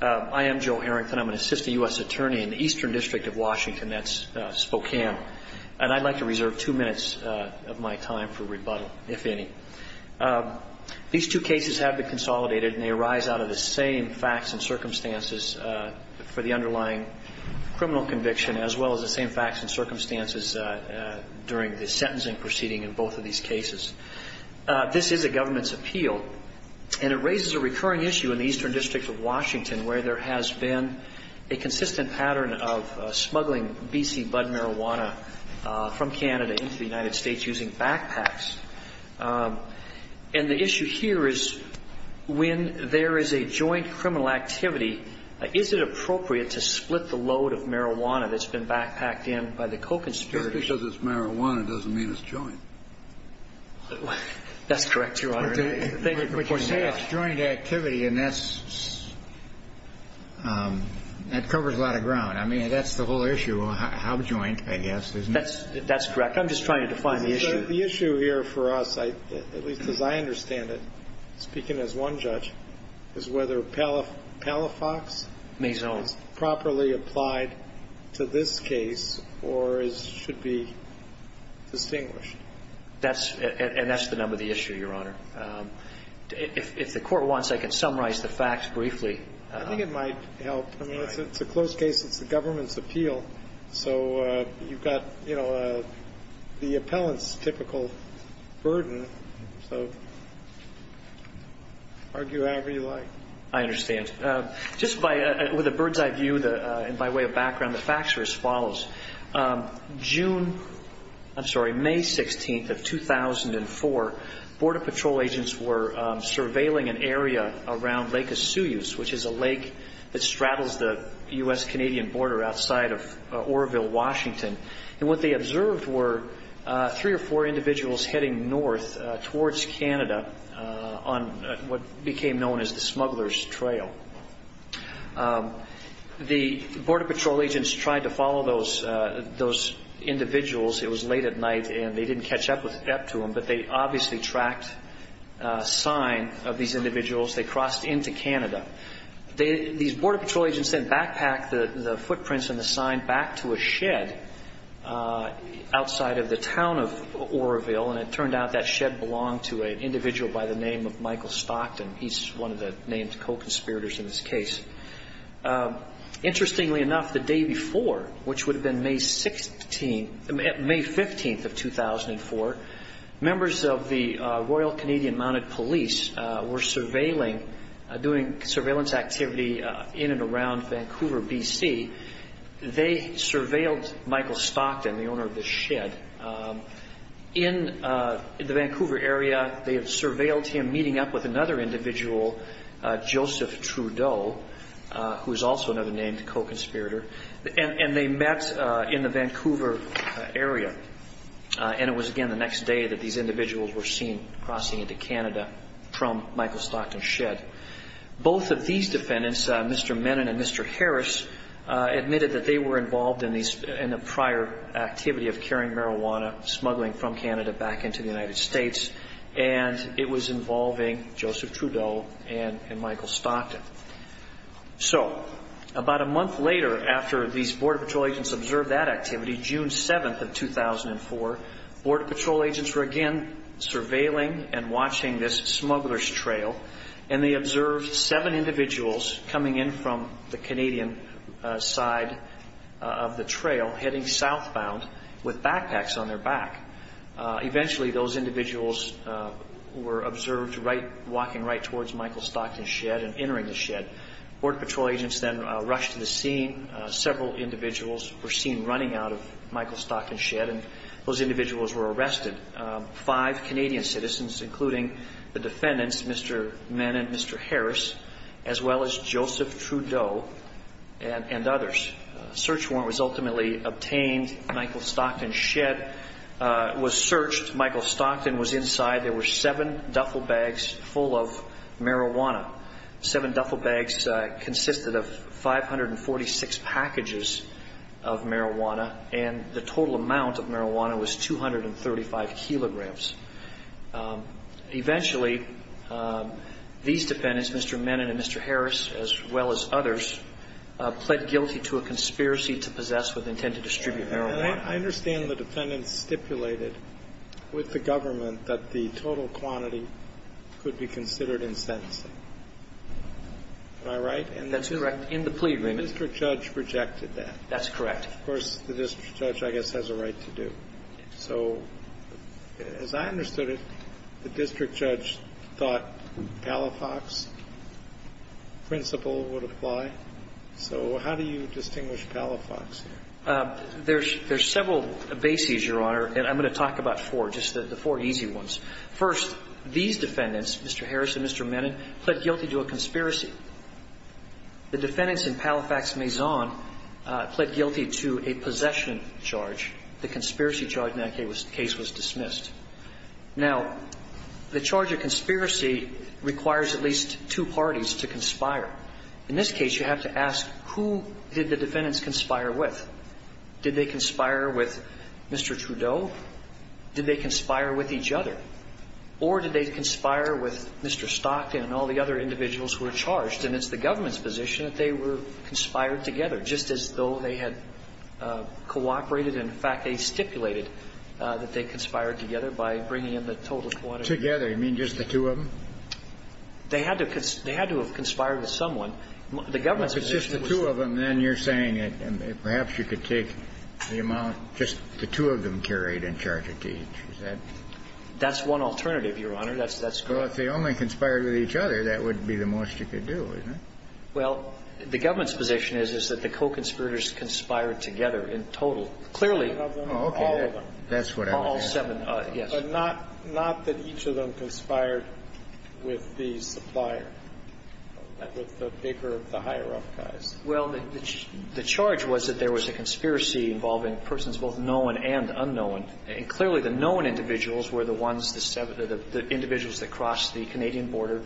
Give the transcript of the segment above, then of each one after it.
I am Joe Harrington. I'm an assistant U.S. attorney in the Eastern District of Washington. That's Spokane. And I'd like to reserve two minutes of my time for rebuttal, if any. These two cases have been consolidated and they arise out of the same facts and circumstances for the underlying criminal conviction as well as the same facts and circumstances during the sentencing proceeding in both of these cases. This is a government's appeal and it where there has been a consistent pattern of smuggling B.C. bud marijuana from Canada into the United States using backpacks. And the issue here is when there is a joint criminal activity, is it appropriate to split the load of marijuana that's been backpacked in by the co-conspirators? Justice, if it's marijuana, it doesn't mean it's joint. That's correct, Your Honor. But you say it's joint activity, and that covers a lot of ground. I mean, that's the whole issue. How joint, I guess, isn't it? That's correct. I'm just trying to define the issue. The issue here for us, at least as I understand it, speaking as one judge, is whether Palafox is properly applied to this case or should be distinguished. And that's the number of the issue, Your Honor. If the Court wants, I can summarize the facts briefly. I think it might help. I mean, it's a close case. It's a government's appeal. So you've got, you know, the appellant's typical burden. So argue however you like. I understand. Just by, with a bird's-eye view and by way of background, the facts are as follows. On May 16th of 2004, Border Patrol agents were surveilling an area around Lake Asuyus, which is a lake that straddles the U.S.-Canadian border outside of Oroville, Washington. And what they observed were three or four individuals heading north towards Canada on what became known as the Smugglers Trail. The Border Patrol agents tried to follow those individuals. It was late at night, and they didn't catch up to them. But they obviously tracked a sign of these individuals. They crossed into Canada. These Border Patrol agents then backpacked the footprints and the sign back to a shed outside of the town of Oroville. And it turned out that shed belonged to an individual by the name of Michael Stockton. He's one of the named co-conspirators in this case. Interestingly enough, the day before, which would have been May 15th of 2004, members of the Royal Canadian Mounted Police were surveilling, doing surveillance activity in and around Vancouver, B.C. They surveilled Michael Stockton, the owner of the shed. In the Vancouver area, they had surveilled him meeting up with another individual, Joseph Trudeau, who is also another named co-conspirator. And they met in the Vancouver area. And it was, again, the next day that these individuals were seen crossing into Canada from Michael Stockton's shed. Both of these defendants, Mr. Menon and Mr. Harris, admitted that they were involved in a prior activity of carrying marijuana, smuggling from Canada back into the United States. And it was involving Joseph Trudeau and Michael Stockton. So about a month later, after these Border Patrol agents observed that activity, June 7th of 2004, Border Patrol agents were again surveilling and watching this smuggler's trail. And they observed seven individuals coming in from the Canadian side of the trail, heading southbound with backpacks on their back. Eventually, those individuals were observed walking right towards Michael Stockton's shed and entering the shed. Border Patrol agents then rushed to the scene. Several individuals were seen running out of Michael Stockton's shed. And Mr. Menon, Mr. Harris, as well as Joseph Trudeau, and others. A search warrant was ultimately obtained. Michael Stockton's shed was searched. Michael Stockton was inside. There were seven duffel bags full of marijuana. Seven duffel bags consisted of 546 packages of marijuana. And the total amount of marijuana was 235 kilograms. Eventually, these defendants, Mr. Menon and Mr. Harris, as well as others, pled guilty to a conspiracy to possess with intent to distribute marijuana. And I understand the defendants stipulated with the government that the total quantity could be considered in sentencing. Am I right? That's correct. In the plea agreement. The district judge rejected that. That's correct. Of course, the district judge, I guess, has a right to do. So as I understood it, the district judge thought Palafox principle would apply. So how do you distinguish Palafox here? There's several bases, Your Honor. And I'm going to talk about four, just the four easy ones. First, these defendants, Mr. Harris and Mr. Menon, pled guilty to a conspiracy. The defendants in Palafox-Maison pled guilty to a possession charge. The conspiracy charge in that case was dismissed. Now, the charge of conspiracy requires at least two parties to conspire. In this case, you have to ask, who did the defendants conspire with? Did they conspire with Mr. Trudeau? Did they conspire with each other? Or did they conspire with Mr. Stockton and all the other individuals who were charged? And it's the government's position that they were conspired together, just as though they had cooperated. And, in fact, they stipulated that they conspired together by bringing in the total quantity. Together. You mean just the two of them? They had to have conspired with someone. The government's position was that they conspired with someone. Well, if it's just the two of them, then you're saying that perhaps you could take the amount just the two of them carried and charge it to each. Is that...? That's one alternative, Your Honor. That's correct. Well, if they only conspired with each other, that would be the most you could do, wouldn't it? Well, the government's position is, is that the co-conspirators conspired together in total. Clearly... All of them. Oh, okay. All of them. That's what I was asking. All seven. Yes. But not that each of them conspired with the supplier, with the baker of the higher-up guys. Well, the charge was that there was a conspiracy involving persons both known and unknown. And clearly, the known individuals were the ones, the individuals that crossed the Canadian border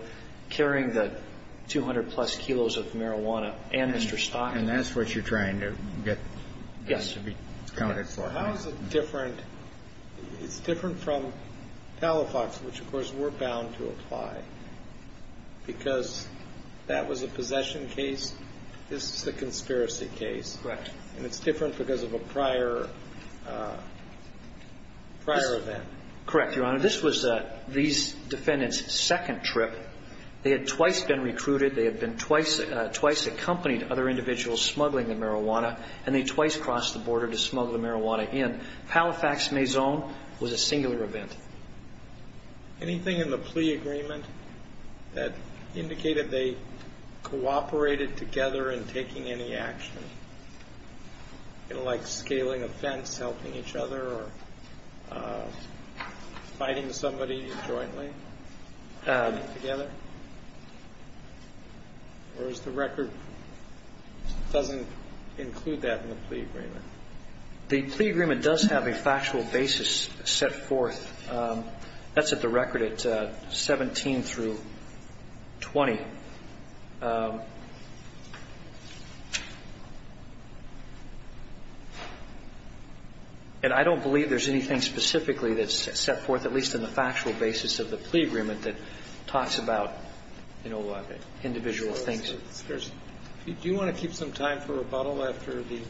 carrying the 200-plus kilos of marijuana and Mr. Stock. And that's what you're trying to get them to be counted for, right? Yes. Well, how is it different? It's different from Talifox, which, of course, we're bound to apply, because that was a possession case. This is a conspiracy case. Right. And it's different because of a prior, prior event. Correct, Your Honor. This was these defendants' second trip. They had twice been recruited. They had been twice, twice accompanied other individuals smuggling the marijuana. And they twice crossed the border to smuggle the marijuana in. Halifax-Maison was a singular event. Anything in the plea agreement that indicated they cooperated together in taking any action, like scaling a fence, helping each other, or fighting somebody jointly, working together? Or is the record doesn't include that in the plea agreement? The plea agreement does have a factual basis set forth. That's at the record at 17 through 20. And I don't believe there's anything specifically that's set forth, at least in the factual basis of the plea agreement, that talks about, you know, individual things. Do you want to keep some time for rebuttal after the...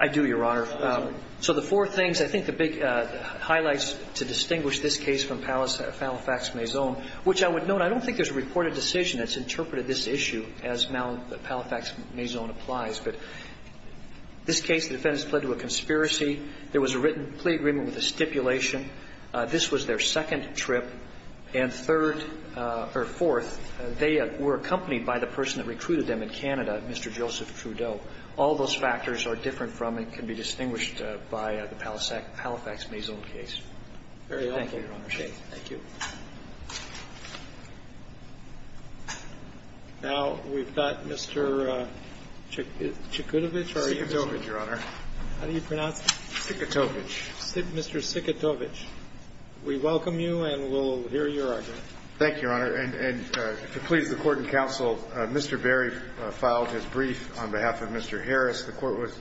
I do, Your Honor. So the four things, I think the big highlights to distinguish this case from Halifax-Maison, which I would note, I don't think there's a reported decision that's interpreted this issue as Halifax-Maison applies. But this case, the defendants pled to a conspiracy. There was a written plea agreement with a stipulation. This was their second trip. And third or fourth, they were accompanied by the person that recruited them in Canada, Mr. Joseph Trudeau. All those factors are different from and can be distinguished by the Halifax-Maison case. Thank you, Your Honor. Thank you. Now we've got Mr. Cikutovic. Cikutovic, Your Honor. How do you pronounce it? Cikutovic. Mr. Cikutovic. We welcome you and we'll hear your argument. Thank you, Your Honor. And if you please, the Court and Counsel, Mr. Berry filed his brief on behalf of Mr. Harris. The Court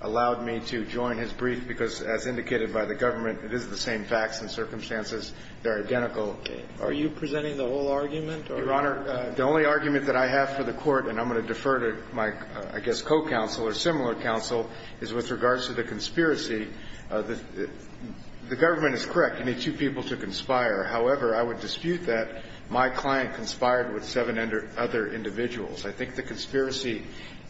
allowed me to join his brief because, as indicated by the government, it is the same facts and circumstances. They're identical. Are you presenting the whole argument? Your Honor, the only argument that I have for the Court, and I'm going to defer to my, I guess, co-counsel or similar counsel, is with regards to the conspiracy. The government is correct. You need two people to conspire. However, I would dispute that my client conspired with seven other individuals. I think the conspiracy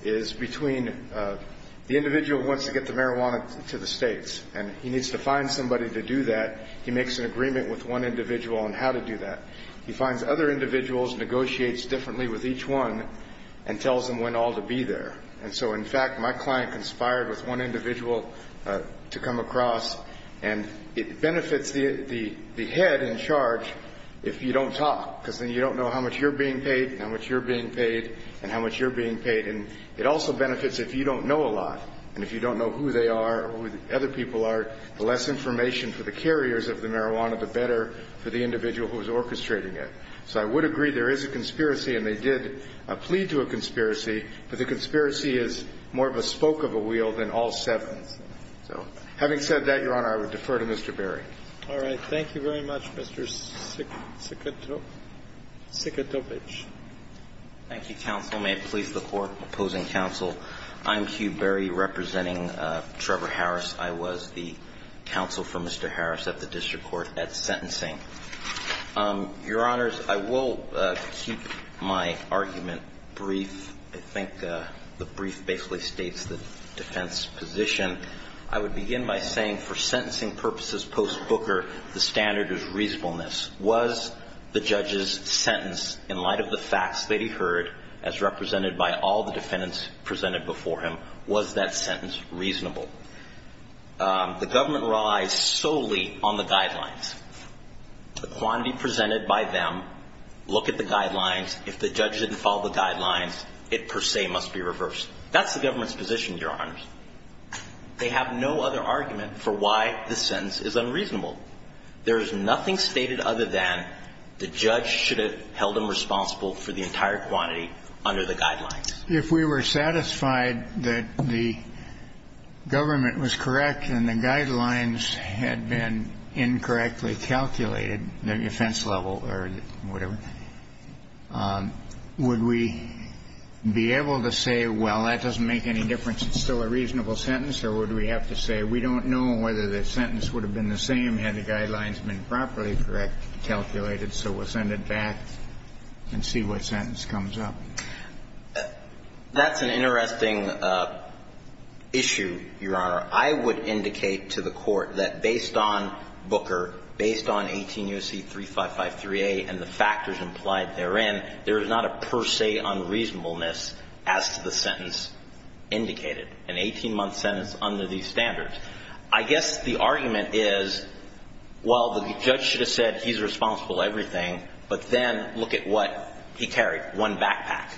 is between the individual who wants to get the marijuana to the states, and he needs to find somebody to do that. He makes an agreement with one individual on how to do that. He finds other individuals, negotiates differently with each one, and tells them when all to be there. And so, in fact, my client conspired with one individual to come across, and it benefits the head in charge if you don't talk, because then you don't know how much you're being orchestrated. And it also benefits if you don't know a lot. And if you don't know who they are or who the other people are, the less information for the carriers of the marijuana, the better for the individual who is orchestrating it. So I would agree there is a conspiracy, and they did plead to a conspiracy, but the conspiracy is more of a spoke of a wheel than all seven. So, having said that, Your Honor, I would defer to Mr. Berry. All right. Thank you very much, Mr. Cicatopic. Thank you, Counsel. May it please the Court. Opposing Counsel, I'm Hugh Berry representing Trevor Harris. I was the counsel for Mr. Harris at the District Court at sentencing. Your Honors, I will keep my argument brief. I think the brief basically states the defense position. I would begin by saying, for sentencing purposes post-Booker, the standard is reasonableness. Was the facts that he heard, as represented by all the defendants presented before him, was that sentence reasonable? The government relies solely on the guidelines. The quantity presented by them, look at the guidelines. If the judge didn't follow the guidelines, it per se must be reversed. That's the government's position, Your Honors. They have no other argument for why the sentence is unreasonable. There is nothing stated other than the judge should have held them responsible for the entire quantity under the guidelines. If we were satisfied that the government was correct and the guidelines had been incorrectly calculated, maybe offense level or whatever, would we be able to say, well, that doesn't make any difference, it's still a reasonable sentence? Or would we have to say, we don't know whether the sentence would have been the same had the guidelines been properly calculated, so we'll send it back and see what sentence comes up? That's an interesting issue, Your Honor. I would indicate to the Court that based on Booker, based on 18 U.S.C. 3553A and the factors implied therein, there is not a per se unreasonableness as to the sentence indicated, an 18-month sentence under these standards. I guess the argument is, well, the judge should have said he's responsible for everything, but then look at what he carried, one backpack.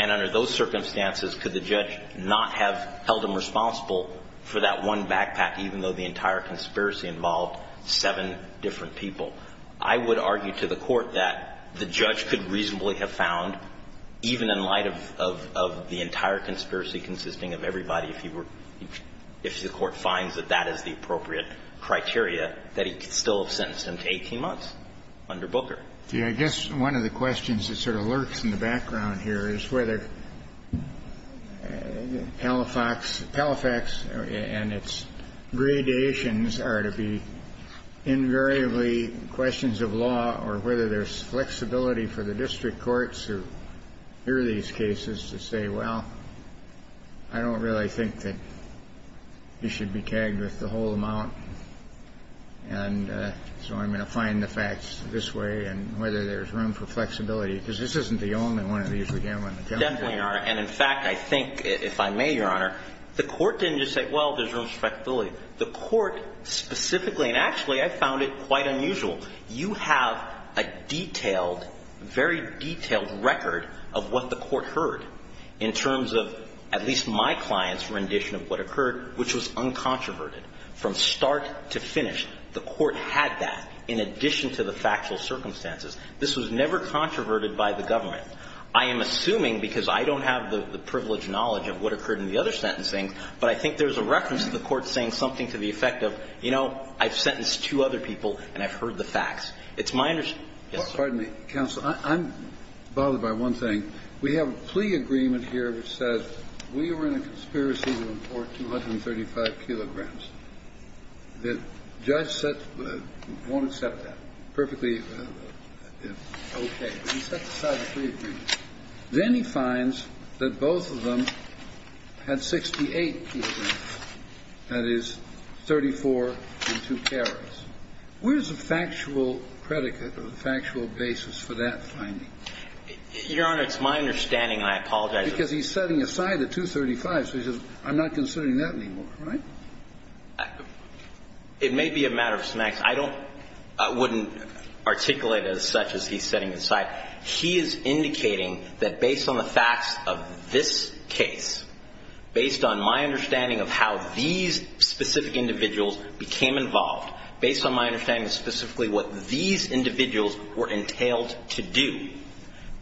And under those circumstances, could the judge not have held him responsible for that one backpack, even though the entire conspiracy involved seven different people? I would argue to the Court that the judge could reasonably have found, even in light of the entire conspiracy consisting of everybody, if the Court finds that that is the appropriate criteria, that he could still have sentenced him to 18 months under Booker. I guess one of the questions that sort of lurks in the background here is whether Califax and its gradations are to be invariably questions of law, or whether there's flexibility for the district courts who hear these cases to say, well, I don't really think that he should be tagged with the whole amount, and so I'm going to find the facts this way, and whether there's room for flexibility, because this isn't the only one of these we have on the agenda. Definitely not. And in fact, I think, if I may, Your Honor, the Court didn't just say, well, there's room for flexibility. The Court specifically, and I think there's a detailed, very detailed record of what the Court heard in terms of at least my client's rendition of what occurred, which was uncontroverted from start to finish. The Court had that, in addition to the factual circumstances. This was never controverted by the government. I am assuming, because I don't have the privileged knowledge of what occurred in the other sentencing, but I think there's a reference to the Court saying something to the effect of, you know, I've sentenced two other people, and I've heard the I'm bothered by one thing. We have a plea agreement here which says we were in a conspiracy to import 235 kilograms. The judge won't accept that. Perfectly okay. But he sets aside the plea agreement. Then he finds that both of them had 68 kilograms, that is, 34 and two carats. Where's the factual predicate or the basis for that finding? Your Honor, it's my understanding, and I apologize. Because he's setting aside the 235, so he says, I'm not considering that anymore, right? It may be a matter of semantics. I don't – I wouldn't articulate as such as he's setting aside. He is indicating that based on the facts of this case, based on my understanding of how these specific individuals became involved, based on my understanding of specifically what these individuals were entailed to do,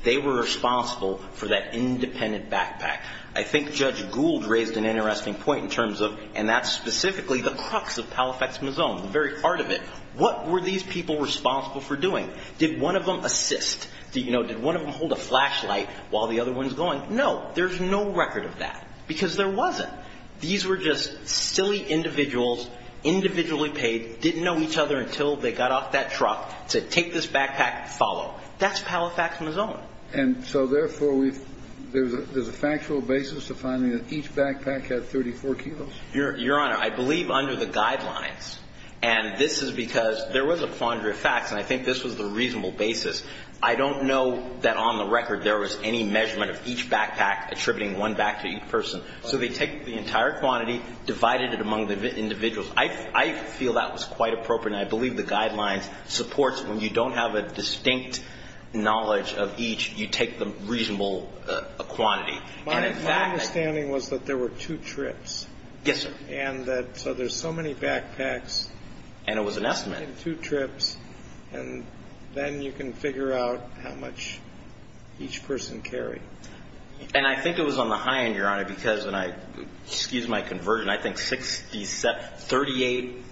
they were responsible for that independent backpack. I think Judge Gould raised an interesting point in terms of, and that's specifically the crux of Palafax Mizzone, the very heart of it. What were these people responsible for doing? Did one of them assist? You know, did one of them hold a flashlight while the other one's going? No. There's no record of that. Because there wasn't. These were just silly individuals, individually paid, didn't know each other until they got off that truck, said, take this backpack, follow. That's Palafax Mizzone. And so therefore, we've – there's a factual basis to finding that each backpack had 34 kilos? Your Honor, I believe under the guidelines, and this is because there was a quandary of facts, and I think this was the reasonable basis. I don't know that on the record there was any measurement of each backpack attributing one bag to each person. So they take the entire quantity, divided it among the individuals. I feel that was quite appropriate, and I believe the guidelines supports when you don't have a distinct knowledge of each, you take the reasonable quantity. My understanding was that there were two trips. Yes, sir. And that – so there's so many backpacks. And it was an estimate. Two trips, and then you can figure out how much each person carried. And I think it was on the line, Your Honor, because when I – excuse my conversion. I think 38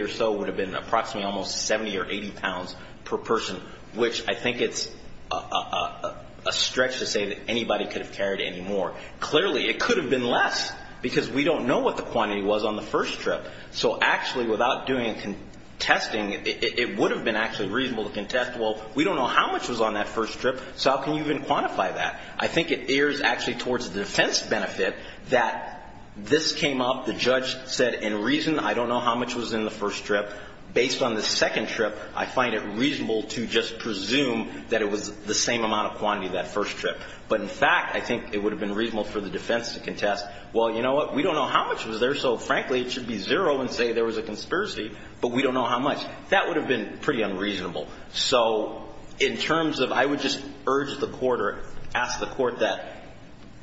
or so would have been approximately almost 70 or 80 pounds per person, which I think it's a stretch to say that anybody could have carried any more. Clearly, it could have been less, because we don't know what the quantity was on the first trip. So actually, without doing a contesting, it would have been actually reasonable to contest, well, we don't know how much was on that first trip, so how can you even quantify that? I think it errs actually towards the defense benefit that this came up, the judge said in reason, I don't know how much was in the first trip. Based on the second trip, I find it reasonable to just presume that it was the same amount of quantity that first trip. But in fact, I think it would have been reasonable for the defense to contest, well, you know what, we don't know how much was there, so frankly, it should be zero and say there was a conspiracy, but we don't know how much. That would have been pretty unreasonable. So in terms of, I would just urge the court or ask the court that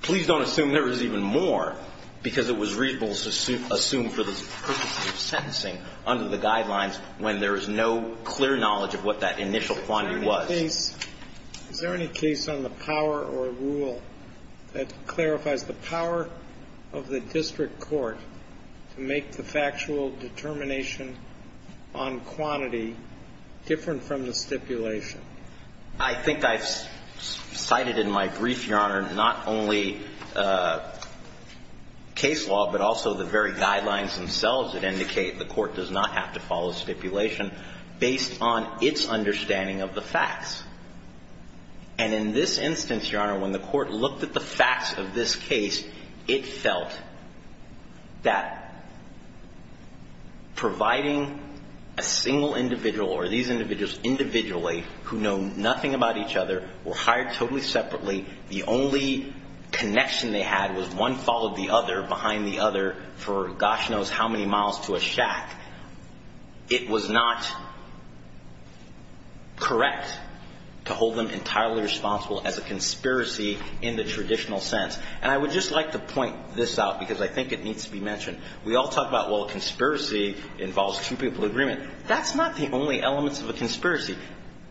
please don't assume there was even more, because it was reasonable to assume for the purposes of sentencing under the guidelines when there is no clear knowledge of what that initial quantity was. Is there any case on the power or rule that clarifies the power of the district court to make the factual determination on quantity different from the stipulation? I think I've cited in my brief, Your Honor, not only case law, but also the very guidelines themselves that indicate the court does not have to follow stipulation based on its understanding of the facts. And in this instance, Your Honor, when the court looked at the facts of this case, it felt that providing a single individual or these individuals individually who know nothing about each other, were hired totally separately, the only connection they had was one followed the other behind the other for gosh knows how many miles to a shack. It was not correct to hold them entirely responsible as a conspiracy in the traditional sense. And I would just like to point this out, because I think it needs to be mentioned. We all talk about well, a conspiracy involves two people in agreement. That's not the only elements of a conspiracy.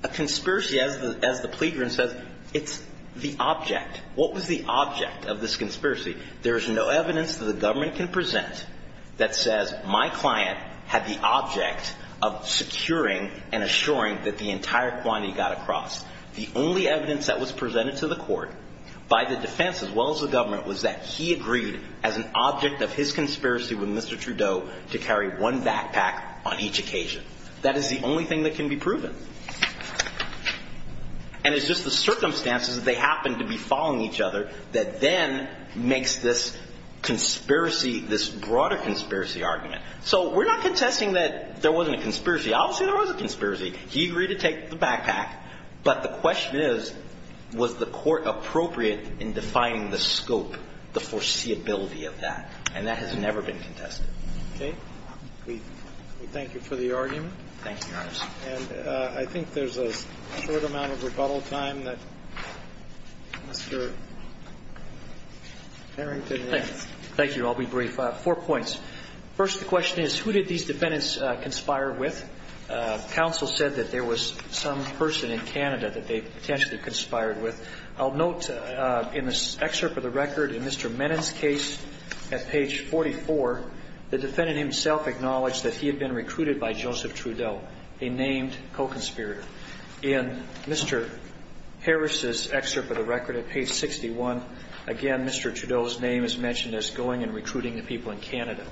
A conspiracy, as the plegarian says, it's the object. What was the object of this conspiracy? There is no evidence that the government can present that says my client had the object of securing and assuring that the entire quantity got across. The only evidence that was presented to the court by the defense as well as the government was that he agreed as an object of his conspiracy with Mr. Trudeau to carry one backpack on each occasion. That is the only thing that can be proven. And it's just the circumstances that they happen to be following each other that then makes this conspiracy, this broader conspiracy argument. So we're not contesting that there wasn't a conspiracy. Obviously there was a conspiracy. He agreed to take the backpack. But the question is was the court appropriate in defining the scope, the foreseeability of that? And that has never been contested. Okay. We thank you for the argument. Thank you, Your Honor. And I think there's a short amount of rebuttal time that Mr. Harrington has. Thank you. I'll be brief. Four points. First, the question is who did these defendants conspire with? Counsel said that there was some person in Canada that they potentially conspired with. I'll note in the excerpt of the record in Mr. Menon's case at page 44, the defendant himself acknowledged that he had been recruited by Joseph Trudeau, a named co-conspirator. In Mr. Harris's excerpt of the record at page 61, again Mr. Trudeau's name is mentioned as going and recruiting the people in Canada.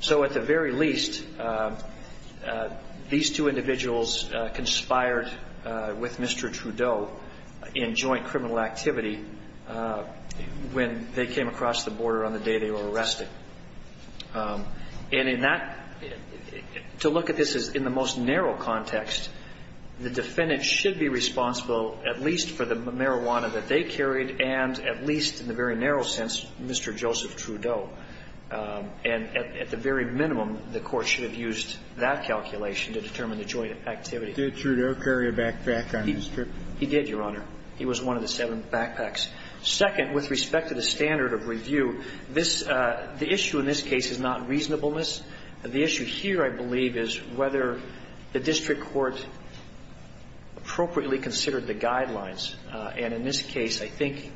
So at the very least, these two individuals conspired with Mr. Trudeau in joint criminal activity when they came across the border on the day they were arrested. And in that, to look at this in the most narrow context, the defendant should be responsible at least for the marijuana that they carried, and at least in the very narrow sense, Mr. Joseph Trudeau. And at the very minimum, the court should have used that calculation to determine the joint activity. Did Trudeau carry a backpack on his trip? He did, Your Honor. He was one of the seven backpacks. Second, with respect to the standard of review, the issue in this case is not reasonableness. The issue here, I believe, is whether the district court appropriately considered the guidelines. And in this case, I think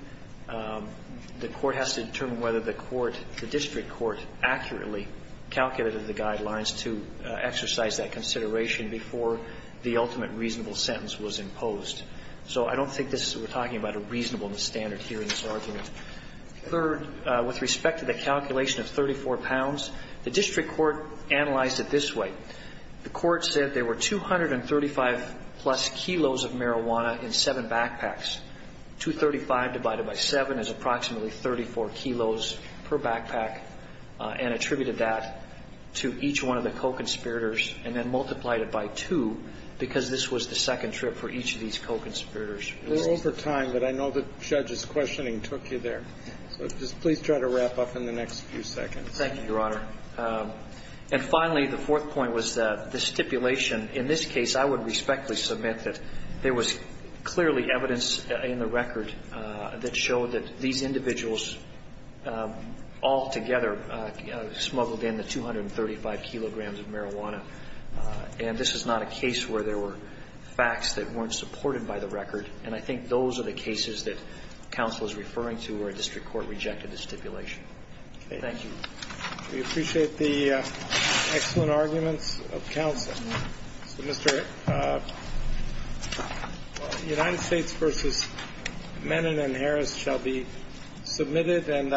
the court has to determine whether the court, the district court, accurately calculated the guidelines to exercise that consideration before the ultimate reasonable sentence was imposed. So I don't think we're talking about a reasonableness standard here in this argument. Third, with respect to the calculation of 34 pounds, the district court analyzed it this way. The court said there were 235-plus kilos of marijuana in seven backpacks. 235 divided by 7 is approximately 34 kilos per backpack, and attributed that to each one of the co-conspirators, and then multiplied it by 2 because this was the second trip for each of these co-conspirators. We're over time, but I know the judge's questioning took you there. So just please try to wrap up in the next few seconds. Thank you, Your Honor. And finally, the fourth point was that the stipulation in this case, I would respectfully submit that there was clearly evidence in the record that showed that these individuals all together smuggled in the 235 kilograms of marijuana. And this is not a case where there were facts that weren't supported by the record, and I think those are the cases that counsel is referring to where a district court rejected the stipulation. Thank you. We appreciate the excellent arguments of counsel. The United States v. Mennon and Harris shall be submitted and